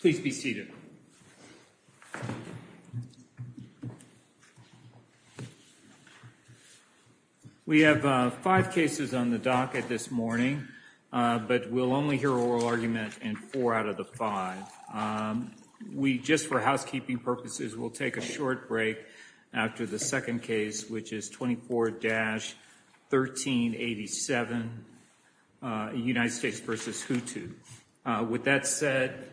Please be seated. We have five cases on the docket this morning, but we'll only hear oral argument in four out of the five. We just, for housekeeping purposes, will take a short break after the second case, which is 24-1387, United States v. Hutu. With that said,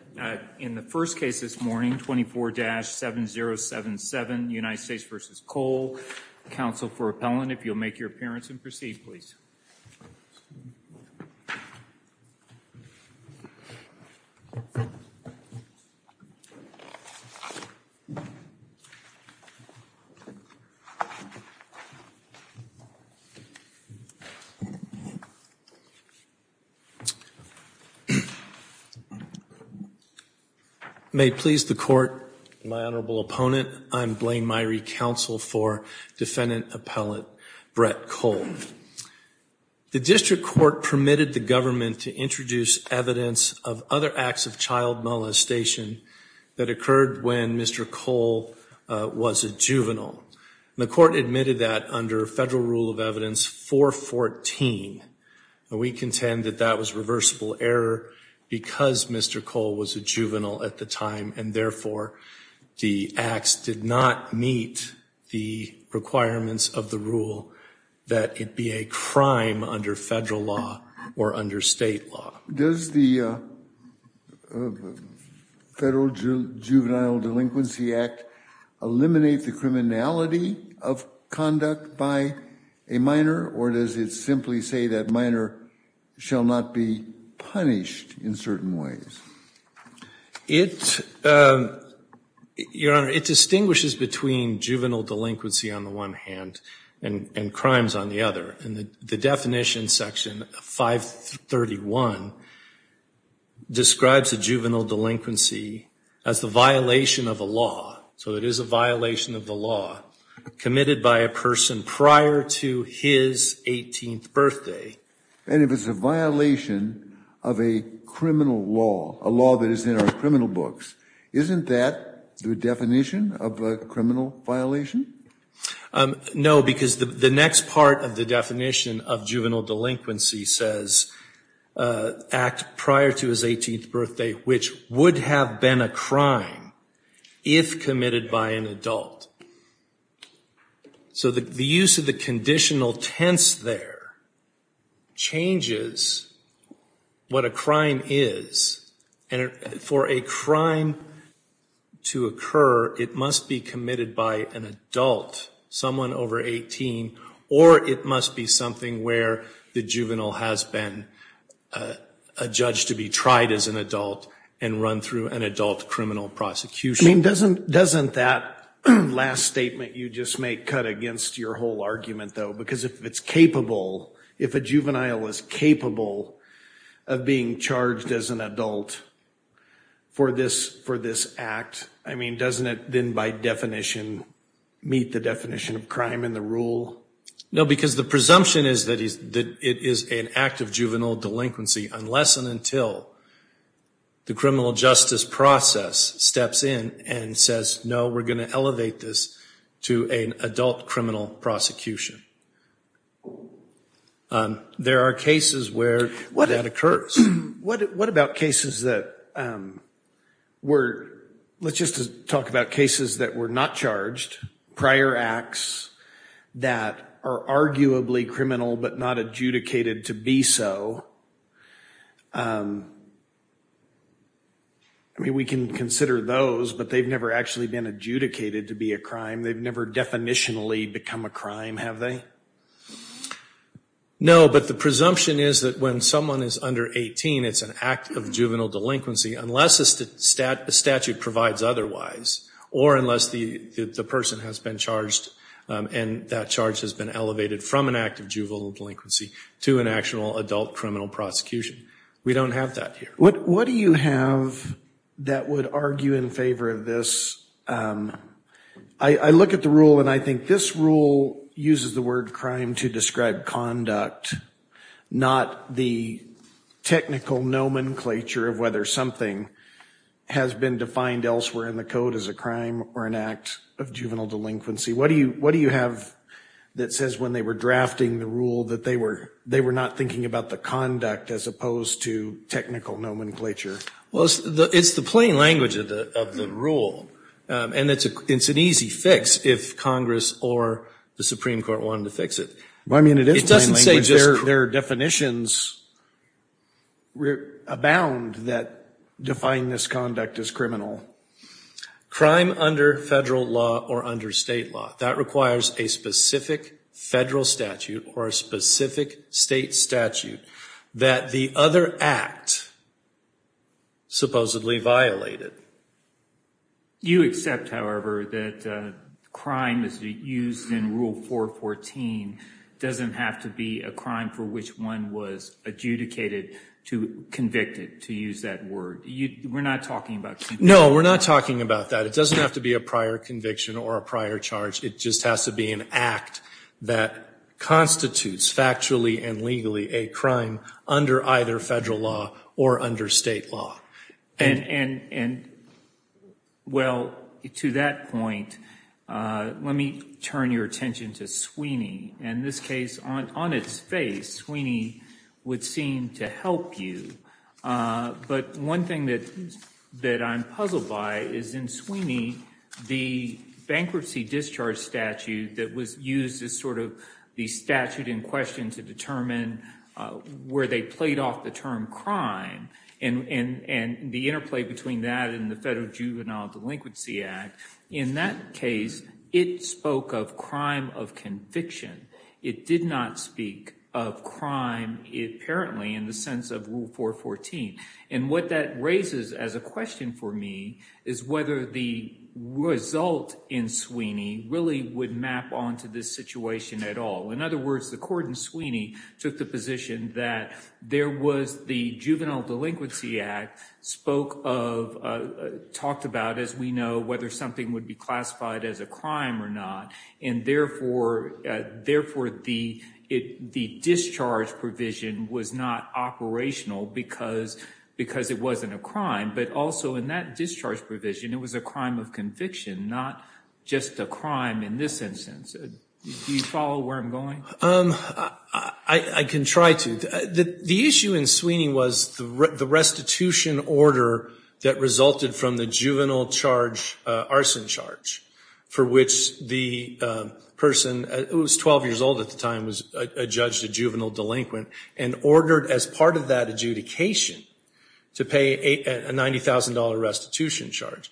in the first case this morning, 24-7077, United States v. Cole, counsel for if you'll make your appearance and proceed, please. May it please the Court, my Honorable Opponent, I'm Blaine Myrie, counsel for Defendant Appellate Brett Cole. The district court permitted the government to introduce evidence of other acts of child molestation that occurred when Mr. Cole was a juvenile. The court admitted that under Federal Rule of Evidence 414. We contend that that was reversible error because Mr. Cole was a juvenile at the time, and therefore the acts did not meet the requirements of the rule that it be a crime under federal law or under state law. Does the Federal Juvenile Delinquency Act eliminate the criminality of conduct by a minor, or does it simply say that minor shall not be punished in certain ways? It, Your Honor, it distinguishes between juvenile delinquency on the one hand and crimes on the other. The definition section 531 describes a juvenile delinquency as the violation of a law. So it is a violation of the law committed by a person prior to his 18th birthday. And if it's a violation of a criminal law, a law that is in our criminal books, isn't that the definition of a criminal violation? No, because the next part of the definition of juvenile delinquency says act prior to his 18th birthday, which would have been a crime if committed by an adult. So the use of the conditional tense there changes what a crime is. For a crime to occur, it must be committed by an adult, someone over 18, or it must be something where the juvenile has been a judge to be tried as an adult and run through an adult criminal prosecution. I mean, doesn't that last statement you just make cut against your whole argument, though? Because if it's capable, if a juvenile is capable of being charged as an adult for this act, I mean, doesn't it then by definition meet the definition of crime in the rule? No, because the presumption is that it is an act of juvenile delinquency unless and until the criminal justice process steps in and says, no, we're going to elevate this to an adult criminal prosecution. There are cases where that occurs. What about cases that were, let's just talk about cases that were not charged, prior acts that are arguably criminal but not adjudicated to be so? I mean, we can consider those, but they've never actually been adjudicated to be a crime. They've never definitionally become a crime, have they? No, but the presumption is that when someone is under 18, it's an act of juvenile delinquency unless the statute provides otherwise or unless the person has been charged and that charge has been elevated from an act of juvenile delinquency to an actual adult criminal prosecution. We don't have that here. What do you have that would argue in favor of this? I look at the rule and I think this rule uses the word crime to describe conduct, not the technical nomenclature of whether something has been defined elsewhere in the code as a crime or an act of juvenile delinquency. What do you have that says when they were drafting the rule that they were not thinking about the conduct as opposed to technical nomenclature? It's the plain language of the rule and it's an easy fix if Congress or the Supreme Court wanted to fix it. I mean, it is plain language. Their definitions abound that define this conduct as criminal. Crime under federal law or under state law, that requires a specific federal statute or a specific state statute that the other act supposedly violated. You accept, however, that crime as used in Rule 414 doesn't have to be a crime for which one was adjudicated, convicted, to use that word. We're not talking about conviction. No, we're not talking about that. It doesn't have to be a prior conviction or a prior charge. It just has to be an act that constitutes factually and legally a crime under either federal law or under state law. And, well, to that point, let me turn your attention to Sweeney. In this case, on its face, Sweeney would seem to help you. But one thing that I'm puzzled by is in Sweeney, the bankruptcy discharge statute that was used as sort of the statute in question to determine where they played off the term crime and the interplay between that and the Federal Juvenile Delinquency Act. In that case, it spoke of crime of conviction. It did not speak of crime, apparently, in the sense of Rule 414. And what that raises as a question for me is whether the result in Sweeney really would map onto this situation at all. In other words, the court in Sweeney took the position that there was the Juvenile Delinquency Act spoke of, talked about, as we know, whether something would be classified as a crime or not and, therefore, the discharge provision was not operational because it wasn't a crime. But also, in that discharge provision, it was a crime of conviction, not just a crime in this instance. Do you follow where I'm going? I can try to. The issue in Sweeney was the restitution order that resulted from the juvenile charge arson charge for which the person, who was 12 years old at the time, was a judge, a juvenile delinquent, and ordered as part of that adjudication to pay a $90,000 restitution charge,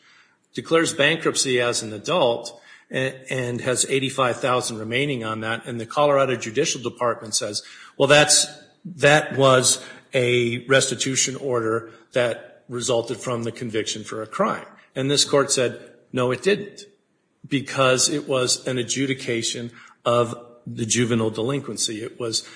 declares bankruptcy as an adult and has $85,000 remaining on that, and the Colorado Judicial Department says, well, that was a restitution order that resulted from the conviction for a crime. And this court said, no, it didn't, because it was an adjudication of the juvenile delinquency. It was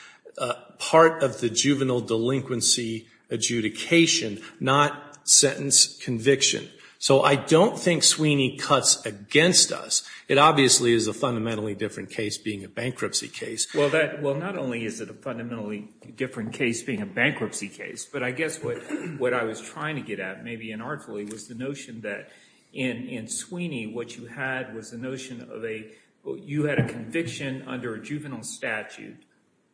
part of the juvenile delinquency adjudication, not sentence conviction. So I don't think Sweeney cuts against us. It obviously is a fundamentally different case being a bankruptcy case. Well, not only is it a fundamentally different case being a bankruptcy case, but I guess what I was trying to get at, maybe inartfully, was the notion that in Sweeney, what you had was the notion of a, you had a conviction under a juvenile statute,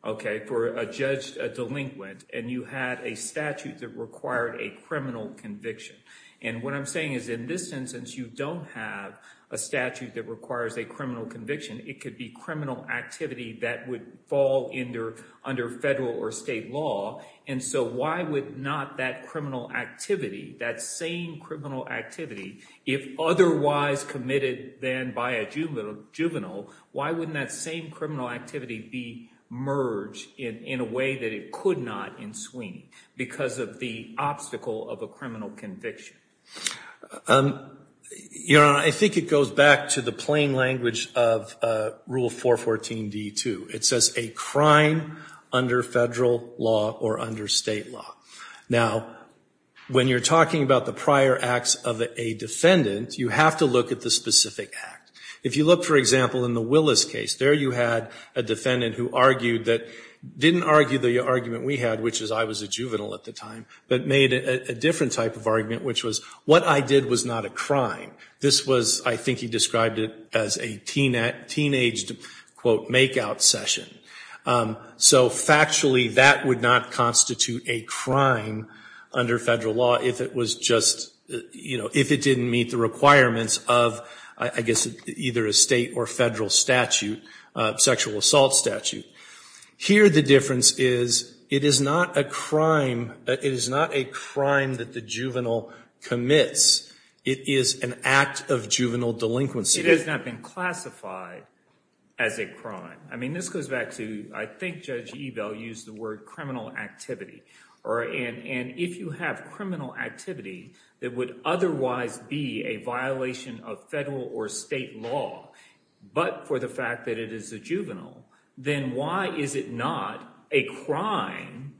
okay, for a judge delinquent, and you had a statute that required a criminal conviction. And what I'm saying is in this instance, you don't have a statute that requires a criminal conviction. It could be criminal activity that would fall under federal or state law. And so why would not that criminal activity, that same criminal activity, if otherwise committed then by a juvenile, why wouldn't that same criminal activity be merged in a way that it could not in Sweeney because of the obstacle of a criminal conviction? Your Honor, I think it goes back to the plain language of Rule 414d-2. It says a crime under federal law or under state law. Now, when you're talking about the prior acts of a defendant, you have to look at the specific act. If you look, for example, in the Willis case, there you had a defendant who argued that, didn't argue the argument we had, which is I was a juvenile at the time, but made a different type of argument, which was what I did was not a crime. This was, I think he described it as a teenaged, quote, make-out session. So factually, that would not constitute a crime under federal law if it was just, you know, if it didn't meet the requirements of, I guess, either a state or federal statute, sexual assault statute. Here, the difference is it is not a crime, it is not a crime that the juvenile commits. It is an act of juvenile delinquency. It has not been classified as a crime. I mean, this goes back to, I think Judge Evel used the word criminal activity, and if you have criminal activity that would otherwise be a violation of federal or state law, but for the fact that it is a juvenile, then why is it not a crime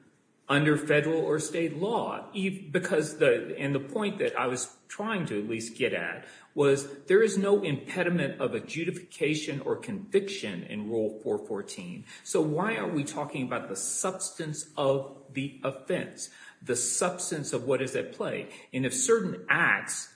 under federal or state law? Because the, and the point that I was trying to at least get at was there is no impediment of a judification or conviction in Rule 414. So why are we talking about the substance of the offense, the substance of what is at play? And if certain acts,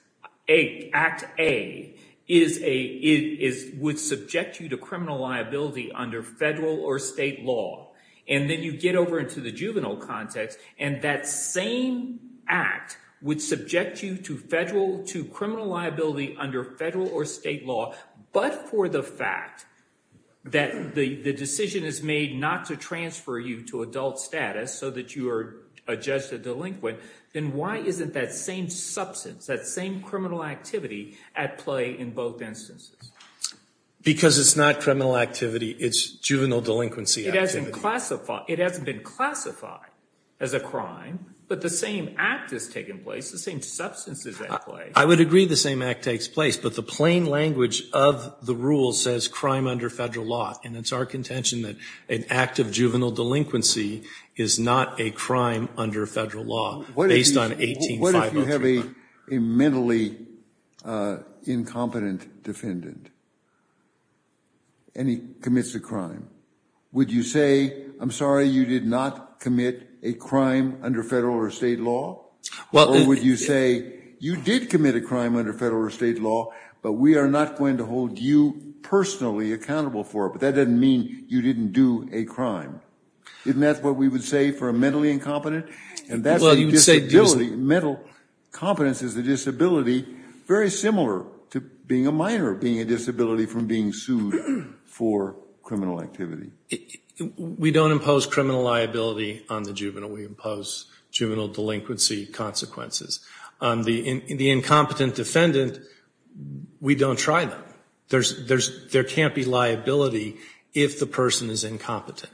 Act A, is a, would subject you to criminal liability under federal or state law, and then you get over into the juvenile context, and that same act would subject you to federal, to criminal liability under federal or state law, but for the fact that the decision is made not to transfer you to adult status so that you are a judge or delinquent, then why isn't that same substance, that same criminal activity at play in both instances? Because it's not criminal activity, it's juvenile delinquency activity. It hasn't classified, it hasn't been classified as a crime, but the same act is taking place, the same substance is at play. I would agree the same act takes place, but the plain language of the rule says crime under federal law, and it's our contention that an act of juvenile delinquency is not a crime under federal law, based on 18-5039. What if you have a mentally incompetent defendant, and he commits a crime, would you say, I'm sorry, you did not commit a crime under federal or state law, or would you say, you did commit a crime under federal or state law, but we are not going to hold you personally accountable for it, but that doesn't mean you didn't do a crime. Isn't that what we would say for a mentally incompetent? And that's a disability, mental competence is a disability, very similar to being a minor, being a disability from being sued for criminal activity. We don't impose criminal liability on the juvenile, we impose juvenile delinquency consequences. On the incompetent defendant, we don't try them. There can't be liability if the person is incompetent.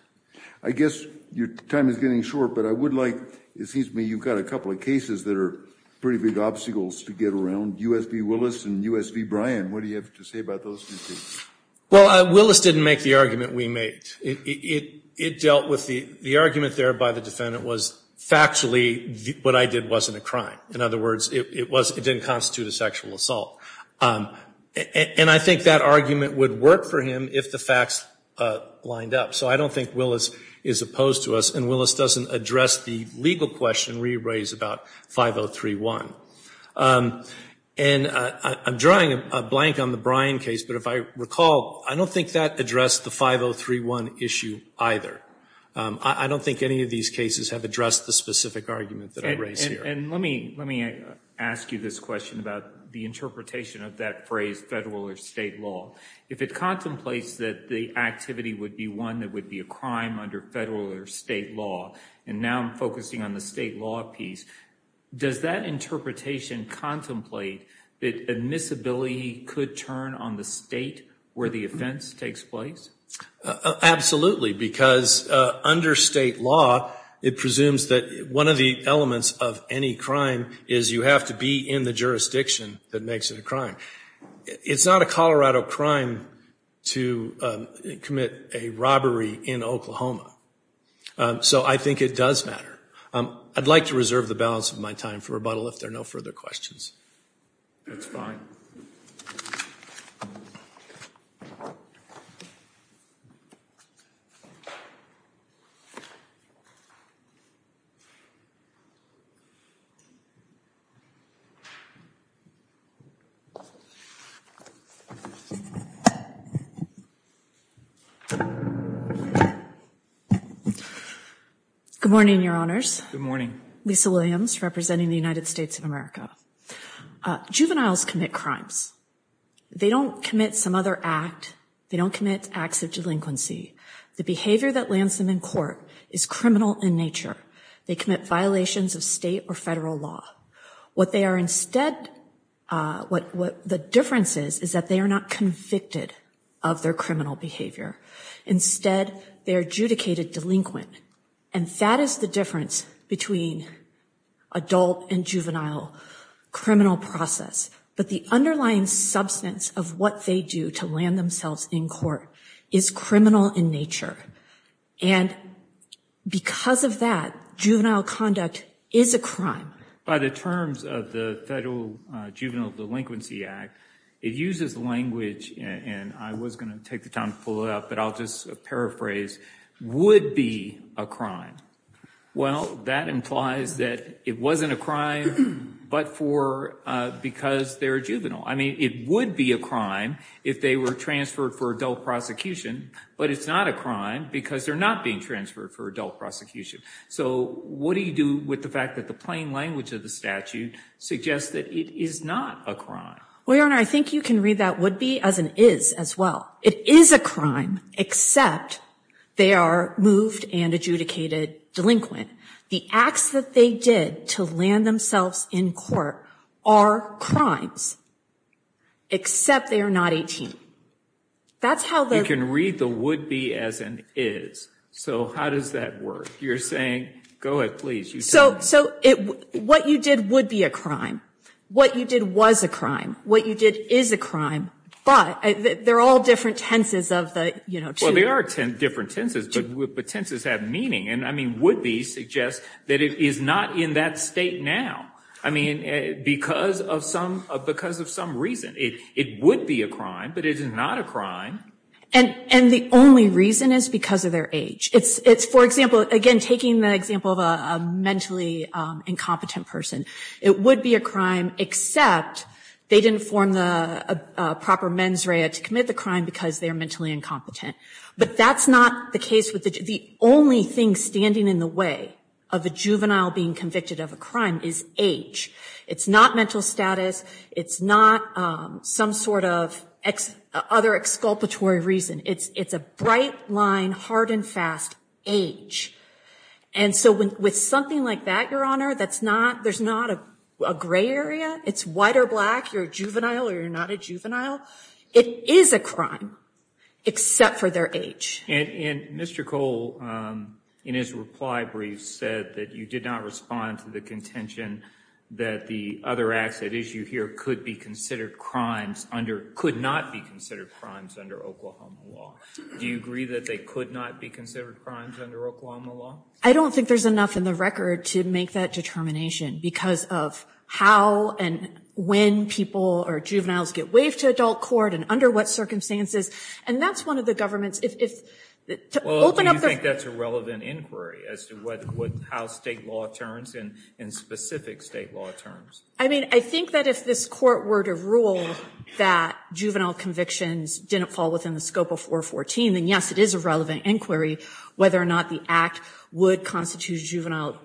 I guess your time is getting short, but I would like, it seems to me you've got a couple of cases that are pretty big obstacles to get around, U.S. v. Willis and U.S. v. Bryan, what do you have to say about those two cases? Well, Willis didn't make the argument we made. It dealt with the argument there by the defendant was factually what I did wasn't a crime. In other words, it didn't constitute a sexual assault. And I think that argument would work for him if the facts lined up. So I don't think Willis is opposed to us, and Willis doesn't address the legal question we raised about 5031. And I'm drawing a blank on the Bryan case, but if I recall, I don't think that addressed the 5031 issue either. I don't think any of these cases have addressed the specific argument that I raised here. And let me ask you this question about the interpretation of that phrase, federal or state law. If it contemplates that the activity would be one that would be a crime under federal or state law, and now I'm focusing on the state law piece, does that interpretation contemplate that admissibility could turn on the state where the offense takes place? Absolutely, because under state law, it presumes that one of the elements of any crime is you have to be in the jurisdiction that makes it a crime. It's not a Colorado crime to commit a robbery in Oklahoma. So I think it does matter. I'd like to reserve the balance of my time for rebuttal if there are no further questions. That's fine. Good morning, Your Honors. Good morning. Lisa Williams, representing the United States of America. Juveniles commit crimes. They don't commit some other act. They don't commit acts of delinquency. The behavior that lands them in court is criminal in nature. They commit violations of state or federal law. What they are instead, what the difference is, is that they are not convicted of their criminal behavior. Instead, they are adjudicated delinquent. And that is the difference between adult and juvenile criminal process. But the underlying substance of what they do to land themselves in court is criminal in nature. And because of that, juvenile conduct is a crime. By the terms of the Federal Juvenile Delinquency Act, it uses language, and I was going to take the time to pull it up, but I'll just paraphrase, would be a crime. Well, that implies that it wasn't a crime because they're a juvenile. I mean, it would be a crime if they were transferred for adult prosecution, but it's not a crime because they're not being transferred for adult prosecution. So what do you do with the fact that the plain language of the statute suggests that it is not a crime? Well, Your Honor, I think you can read that would be as an is as well. It is a crime, except they are moved and adjudicated delinquent. The acts that they did to land themselves in court are crimes, except they are not 18. That's how they're- You can read the would be as an is. So how does that work? You're saying, go ahead, please. So what you did would be a crime. What you did was a crime. What you did is a crime. But they're all different tenses of the, you know- Well, they are different tenses, but tenses have meaning. And I mean, would be suggests that it is not in that state now. I mean, because of some reason, it would be a crime, but it is not a crime. And the only reason is because of their age. It's, for example, again, taking the example of a mentally incompetent person, it would be a crime, except they didn't form the proper mens rea to commit the crime because they're mentally incompetent. But that's not the case with the only thing standing in the way of a juvenile being convicted of a crime is age. It's not mental status. It's not some sort of other exculpatory reason. It's a bright line, hard and fast, age. And so with something like that, Your Honor, there's not a gray area. It's white or black, you're a juvenile or you're not a juvenile. It is a crime, except for their age. And Mr. Cole, in his reply brief, said that you did not respond to the contention that the other acts at issue here could not be considered crimes under Oklahoma law. Do you agree that they could not be considered crimes under Oklahoma law? I don't think there's enough in the record to make that determination because of how and when people or juveniles get waived to adult court and under what circumstances. And that's one of the government's, if, to open up the- Well, do you think that's a relevant inquiry as to how state law turns in specific state law terms? I mean, I think that if this court were to rule that juvenile convictions didn't fall within the scope of 414, then yes, it is a relevant inquiry, whether or not the act would constitute juvenile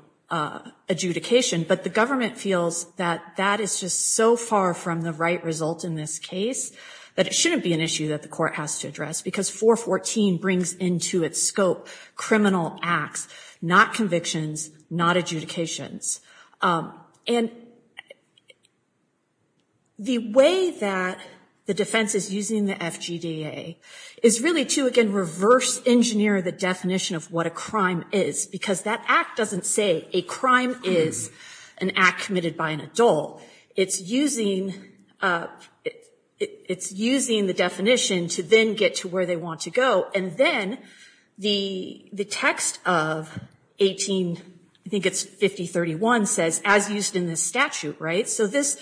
adjudication. But the government feels that that is just so far from the right result in this case that it shouldn't be an issue that the court has to address because 414 brings into its scope criminal acts, not convictions, not adjudications. And the way that the defense is using the FGDA is really to, again, reverse-engineer the definition of what a crime is because that act doesn't say a crime is an act committed by an adult. It's using the definition to then get to where they want to go. And then the text of 18, I think it's 5031, says, as used in this statute, right? So this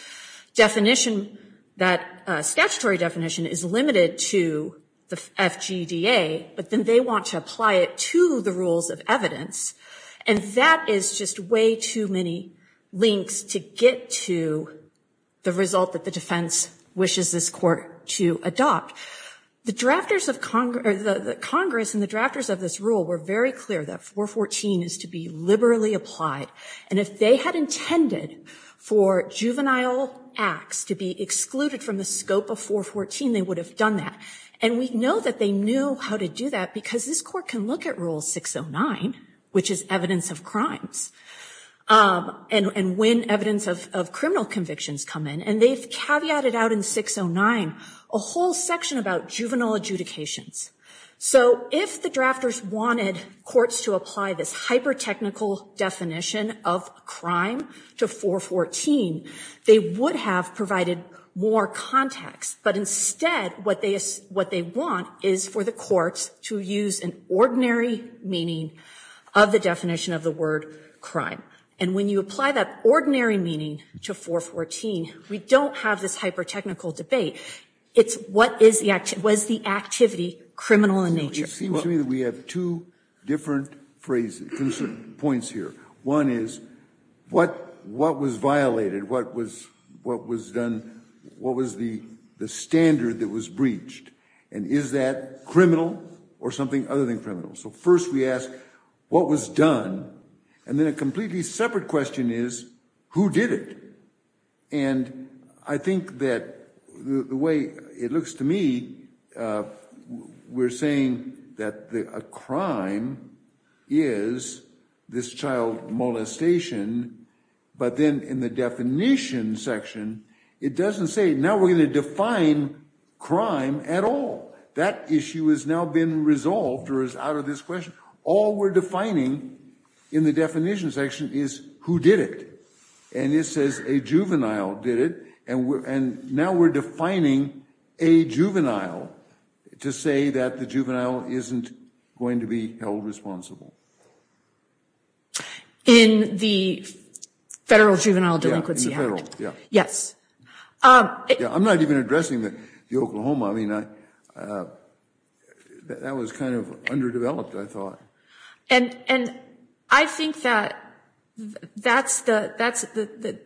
definition, that statutory definition is limited to the FGDA, but then they want to apply it to the rules of evidence. And that is just way too many links to get to the result that the defense wishes this court to adopt. The Congress and the drafters of this rule were very clear that 414 is to be liberally applied. And if they had intended for juvenile acts to be excluded from the scope of 414, they would have done that. And we know that they knew how to do that because this court can look at Rule 609, which is evidence of crimes, and when evidence of criminal convictions come in. And they've caveated out in 609 a whole section about juvenile adjudications. So if the drafters wanted courts to apply this hyper-technical definition of crime to 414, they would have provided more context. But instead, what they want is for the courts to use an ordinary meaning of the definition of the word crime. And when you apply that ordinary meaning to 414, we don't have this hyper-technical debate. It's was the activity criminal in nature. It seems to me that we have two different points here. One is what was violated? What was done? What was the standard that was breached? And is that criminal or something other than criminal? So first we ask, what was done? And then a completely separate question is, who did it? And I think that the way it looks to me, we're saying that a crime is this child molestation. But then in the definition section, it doesn't say, now we're going to define crime at all. That issue has now been resolved or is out of this question. All we're defining in the definition section is, who did it? And it says a juvenile did it. And now we're defining a juvenile to say that the juvenile isn't going to be held responsible. In the federal juvenile delinquency act. Yes. I'm not even addressing the Oklahoma. I mean, that was kind of underdeveloped, I thought. And I think that that's the,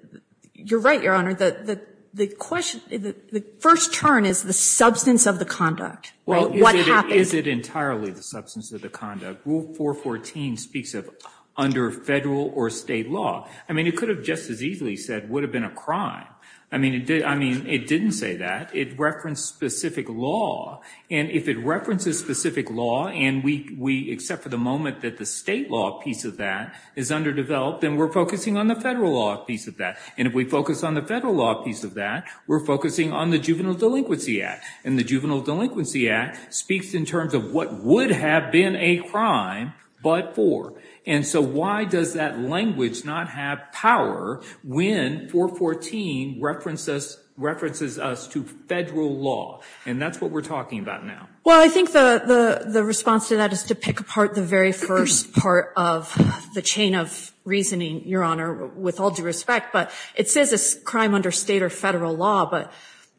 you're right, Your Honor. The question, the first turn is the substance of the conduct. Well, is it entirely the substance of the conduct? Rule 414 speaks of under federal or state law. I mean, it could have just as easily said would have been a crime. I mean, it didn't say that. It referenced specific law. And if it references specific law and we accept for the moment that the state law piece of that is underdeveloped, then we're focusing on the federal law piece of that. And if we focus on the federal law piece of that, we're focusing on the juvenile delinquency act. And the juvenile delinquency act speaks in terms of what would have been a crime but for. And so why does that language not have power when 414 references us to federal law? And that's what we're talking about now. Well, I think the response to that is to pick apart the very first part of the chain of reasoning, Your Honor, with all due respect. But it says it's a crime under state or federal law.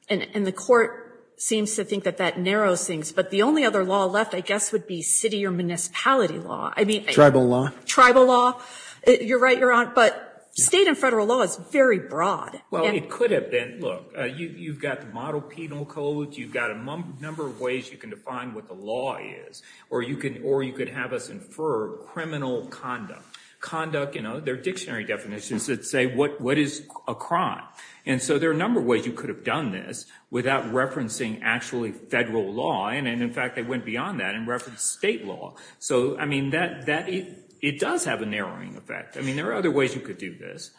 And the court seems to think that that narrows things. But the only other law left, I guess, would be city or municipality law. Tribal law? Tribal law. You're right, Your Honor. But state and federal law is very broad. Well, it could have been. Look, you've got the model penal code. You've got a number of ways you can define what the law is. Or you could have us infer criminal conduct. Conduct, you know, there are dictionary definitions that say what is a crime. And so there are a number of ways you could have done this without referencing actually federal law. And, in fact, they went beyond that and referenced state law. So, I mean, it does have a narrowing effect. I mean, there are other ways you could do this.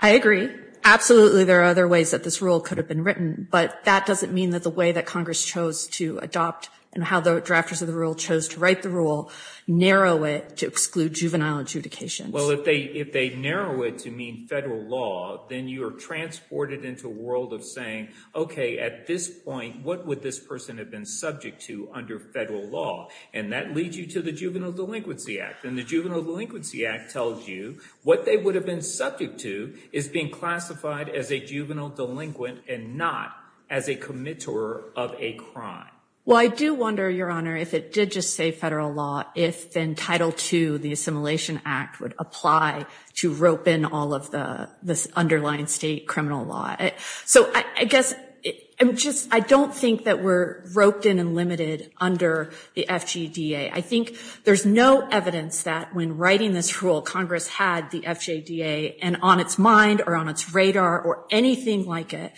I agree. Absolutely there are other ways that this rule could have been written. But that doesn't mean that the way that Congress chose to adopt and how the drafters of the rule chose to write the rule narrow it to exclude juvenile adjudication. Well, if they narrow it to mean federal law, then you are transported into a world of saying, okay, at this point, what would this person have been subject to under federal law? And that leads you to the Juvenile Delinquency Act. And the Juvenile Delinquency Act tells you what they would have been subject to is being classified as a juvenile delinquent and not as a committer of a crime. Well, I do wonder, Your Honor, if it did just say federal law, if then Title II, the Assimilation Act, would apply to rope in all of this underlying state criminal law. So, I guess, I don't think that we're roped in and limited under the FJDA. I think there's no evidence that when writing this rule, Congress had the FJDA on its mind or on its radar or anything like it.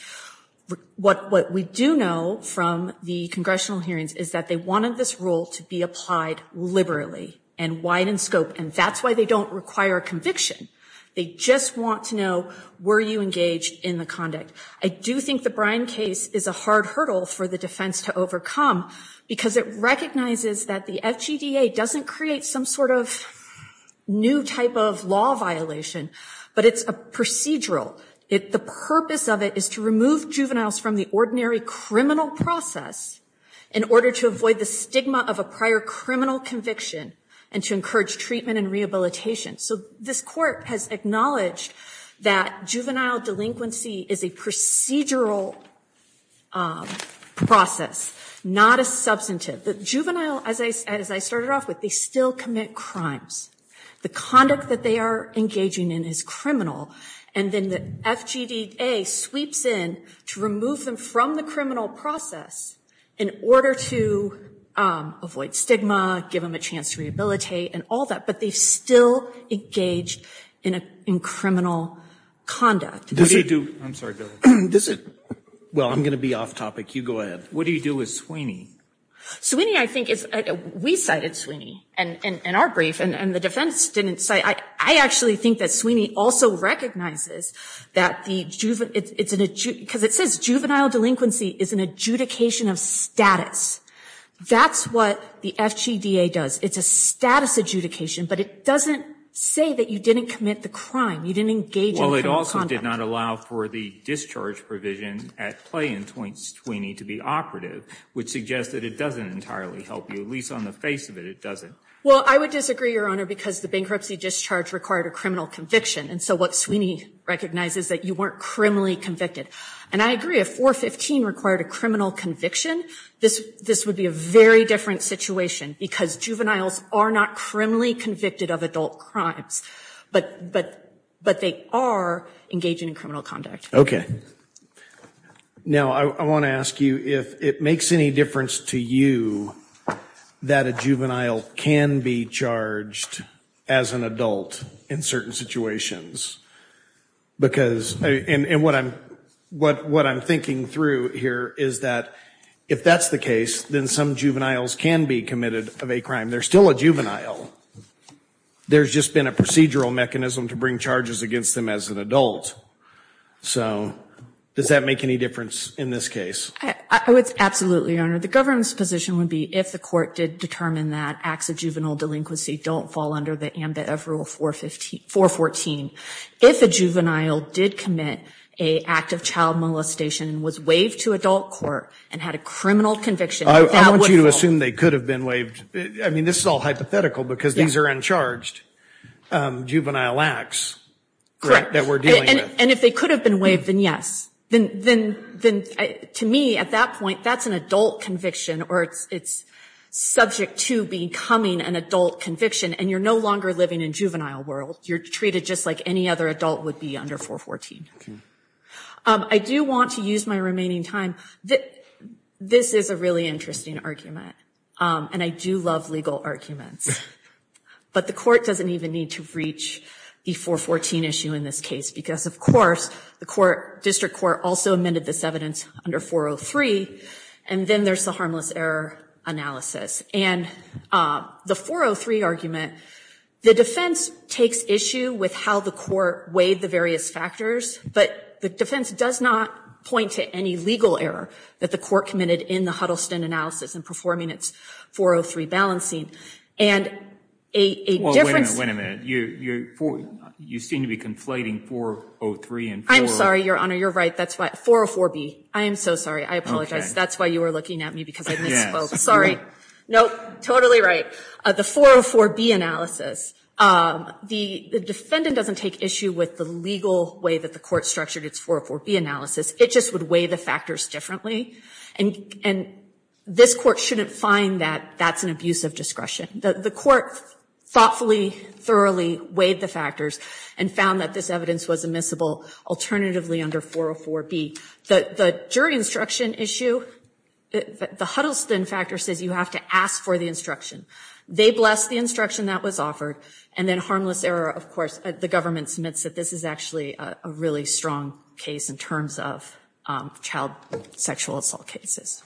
What we do know from the congressional hearings is that they wanted this rule to be applied liberally and wide in scope, and that's why they don't require a conviction. They just want to know, were you engaged in the conduct? I do think the Bryan case is a hard hurdle for the defense to overcome because it recognizes that the FJDA doesn't create some sort of new type of law violation, but it's a procedural. The purpose of it is to remove juveniles from the ordinary criminal process in order to avoid the stigma of a prior criminal conviction and to encourage treatment and rehabilitation. So, this Court has acknowledged that juvenile delinquency is a procedural process, not a substantive. The juvenile, as I started off with, they still commit crimes. The conduct that they are engaging in is criminal, and then the FJDA sweeps in to remove them from the criminal process in order to avoid stigma, give them a chance to rehabilitate, and all that. But they still engage in criminal conduct. Well, I'm going to be off topic. You go ahead. What do you do with Sweeney? Sweeney, I think, we cited Sweeney in our brief, and the defense didn't cite it. I actually think that Sweeney also recognizes that the juvenile, because it says juvenile delinquency is an adjudication of status. That's what the FJDA does. It's a status adjudication, but it doesn't say that you didn't commit the crime. You didn't engage in criminal conduct. Well, it also did not allow for the discharge provision at play in Sweeney to be operative, which suggests that it doesn't entirely help you. At least on the face of it, it doesn't. Well, I would disagree, Your Honor, because the bankruptcy discharge required a criminal conviction, and so what Sweeney recognizes is that you weren't criminally convicted. And I agree. If 415 required a criminal conviction, this would be a very different situation because juveniles are not criminally convicted of adult crimes. But they are engaging in criminal conduct. Now, I want to ask you if it makes any difference to you that a juvenile can be charged as an adult in certain situations. Because, and what I'm thinking through here is that if that's the case, then some juveniles can be committed of a crime. They're still a juvenile. There's just been a procedural mechanism to bring charges against them as an adult. So, does that make any difference in this case? Absolutely, Your Honor. The government's position would be if the court did determine that acts of juvenile delinquency don't fall under the ambit of Rule 414, if a juvenile did commit an act of child molestation and was waived to adult court and had a criminal conviction, that would fall. I want you to assume they could have been waived. I mean, this is all hypothetical because these are uncharged juvenile acts that we're dealing with. And if they could have been waived, then yes. Then, to me, at that point, that's an adult conviction or it's subject to becoming an adult conviction, and you're no longer living in juvenile world. You're treated just like any other adult would be under 414. Okay. I do want to use my remaining time. This is a really interesting argument, and I do love legal arguments. But the court doesn't even need to reach the 414 issue in this case because, of course, the district court also amended this evidence under 403, and then there's the harmless error analysis. And the 403 argument, the defense takes issue with how the court weighed the various factors, but the defense does not point to any legal error that the court committed in the Huddleston analysis in performing its 403 balancing. And a difference- Well, wait a minute. You seem to be conflating 403 and 40- I'm sorry, Your Honor. You're right. 404B. I am so sorry. I apologize. That's why you were looking at me because I misspoke. Sorry. Nope. Totally right. The 404B analysis, the defendant doesn't take issue with the legal way that the court structured its 404B analysis. It just would weigh the factors differently. And this court shouldn't find that that's an abuse of discretion. The court thoughtfully, thoroughly weighed the factors and found that this evidence was admissible alternatively under 404B. The jury instruction issue, the Huddleston factor says you have to ask for the instruction. They blessed the instruction that was offered, and then harmless error, of course, the government submits that this is actually a really strong case in terms of child sexual assault cases.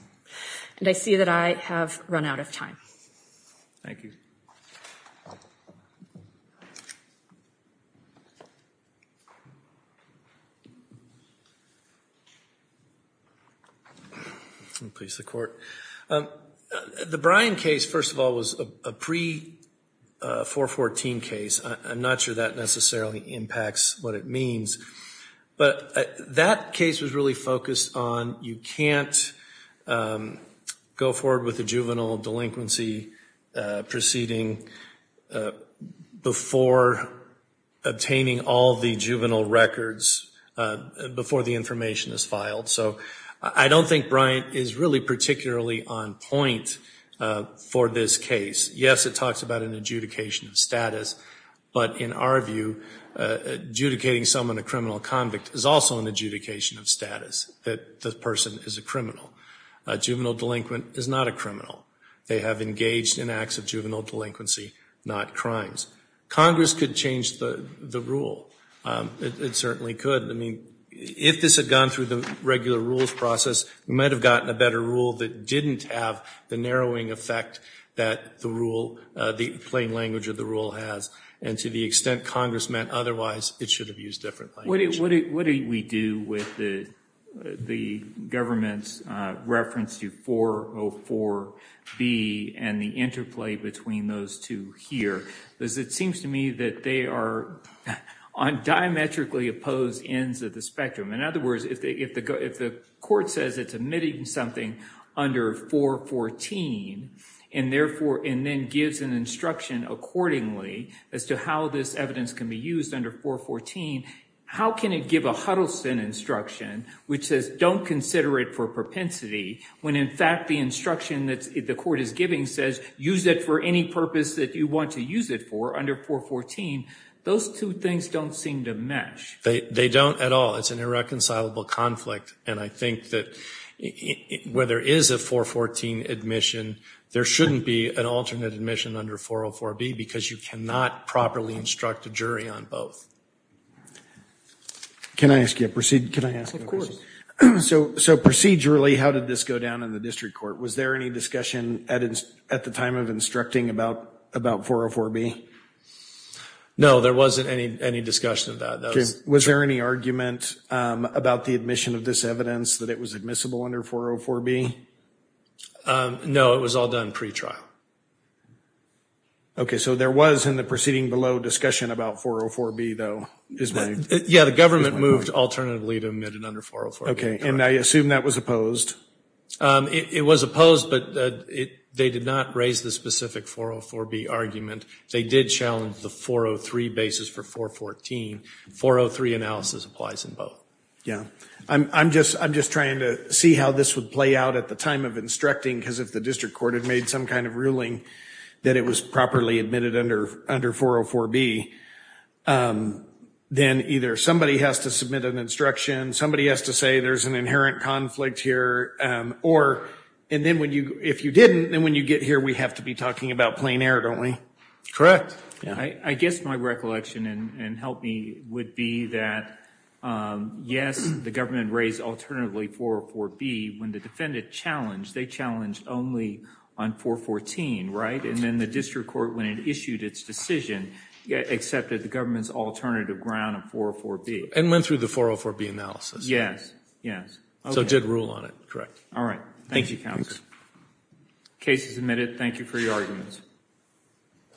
And I see that I have run out of time. Thank you. Please, the court. The Bryan case, first of all, was a pre-414 case. I'm not sure that necessarily impacts what it means. But that case was really focused on you can't go forward with a juvenile delinquency proceeding before obtaining all the juvenile records, before the information is filed. So I don't think Bryan is really particularly on point for this case. Yes, it talks about an adjudication of status. But in our view, adjudicating someone a criminal convict is also an adjudication of status, that the person is a criminal. A juvenile delinquent is not a criminal. They have engaged in acts of juvenile delinquency, not crimes. Congress could change the rule. It certainly could. I mean, if this had gone through the regular rules process, we might have gotten a better rule that didn't have the narrowing effect that the plain language of the rule has. And to the extent Congress meant otherwise, it should have used different language. What do we do with the government's reference to 404B and the interplay between those two here? Because it seems to me that they are on diametrically opposed ends of the spectrum. In other words, if the court says it's omitting something under 414, and then gives an instruction accordingly as to how this evidence can be used under 414, how can it give a Huddleston instruction, which says don't consider it for propensity, when in fact the instruction that the court is giving says use it for any purpose that you want to use it for under 414, those two things don't seem to mesh. They don't at all. It's an irreconcilable conflict. And I think that where there is a 414 admission, there shouldn't be an alternate admission under 404B because you cannot properly instruct a jury on both. Can I ask you a procedural question? Of course. So procedurally, how did this go down in the district court? Was there any discussion at the time of instructing about 404B? No, there wasn't any discussion of that. Was there any argument about the admission of this evidence that it was admissible under 404B? No, it was all done pretrial. Okay, so there was in the proceeding below discussion about 404B, though? Yeah, the government moved alternatively to admit it under 404B. Okay, and I assume that was opposed. It was opposed, but they did not raise the specific 404B argument. They did challenge the 403 basis for 414. 403 analysis applies in both. Yeah, I'm just trying to see how this would play out at the time of instructing because if the district court had made some kind of ruling that it was properly admitted under 404B, then either somebody has to submit an instruction, somebody has to say there's an inherent conflict here, or if you didn't, then when you get here, we have to be talking about plain air, don't we? Correct. I guess my recollection and help me would be that, yes, the government raised alternatively 404B. When the defendant challenged, they challenged only on 414, right? And then the district court, when it issued its decision, accepted the government's alternative ground of 404B. And went through the 404B analysis. Yes, yes. So it did rule on it. All right. Thank you, counsel. Case is admitted. Thank you for your arguments.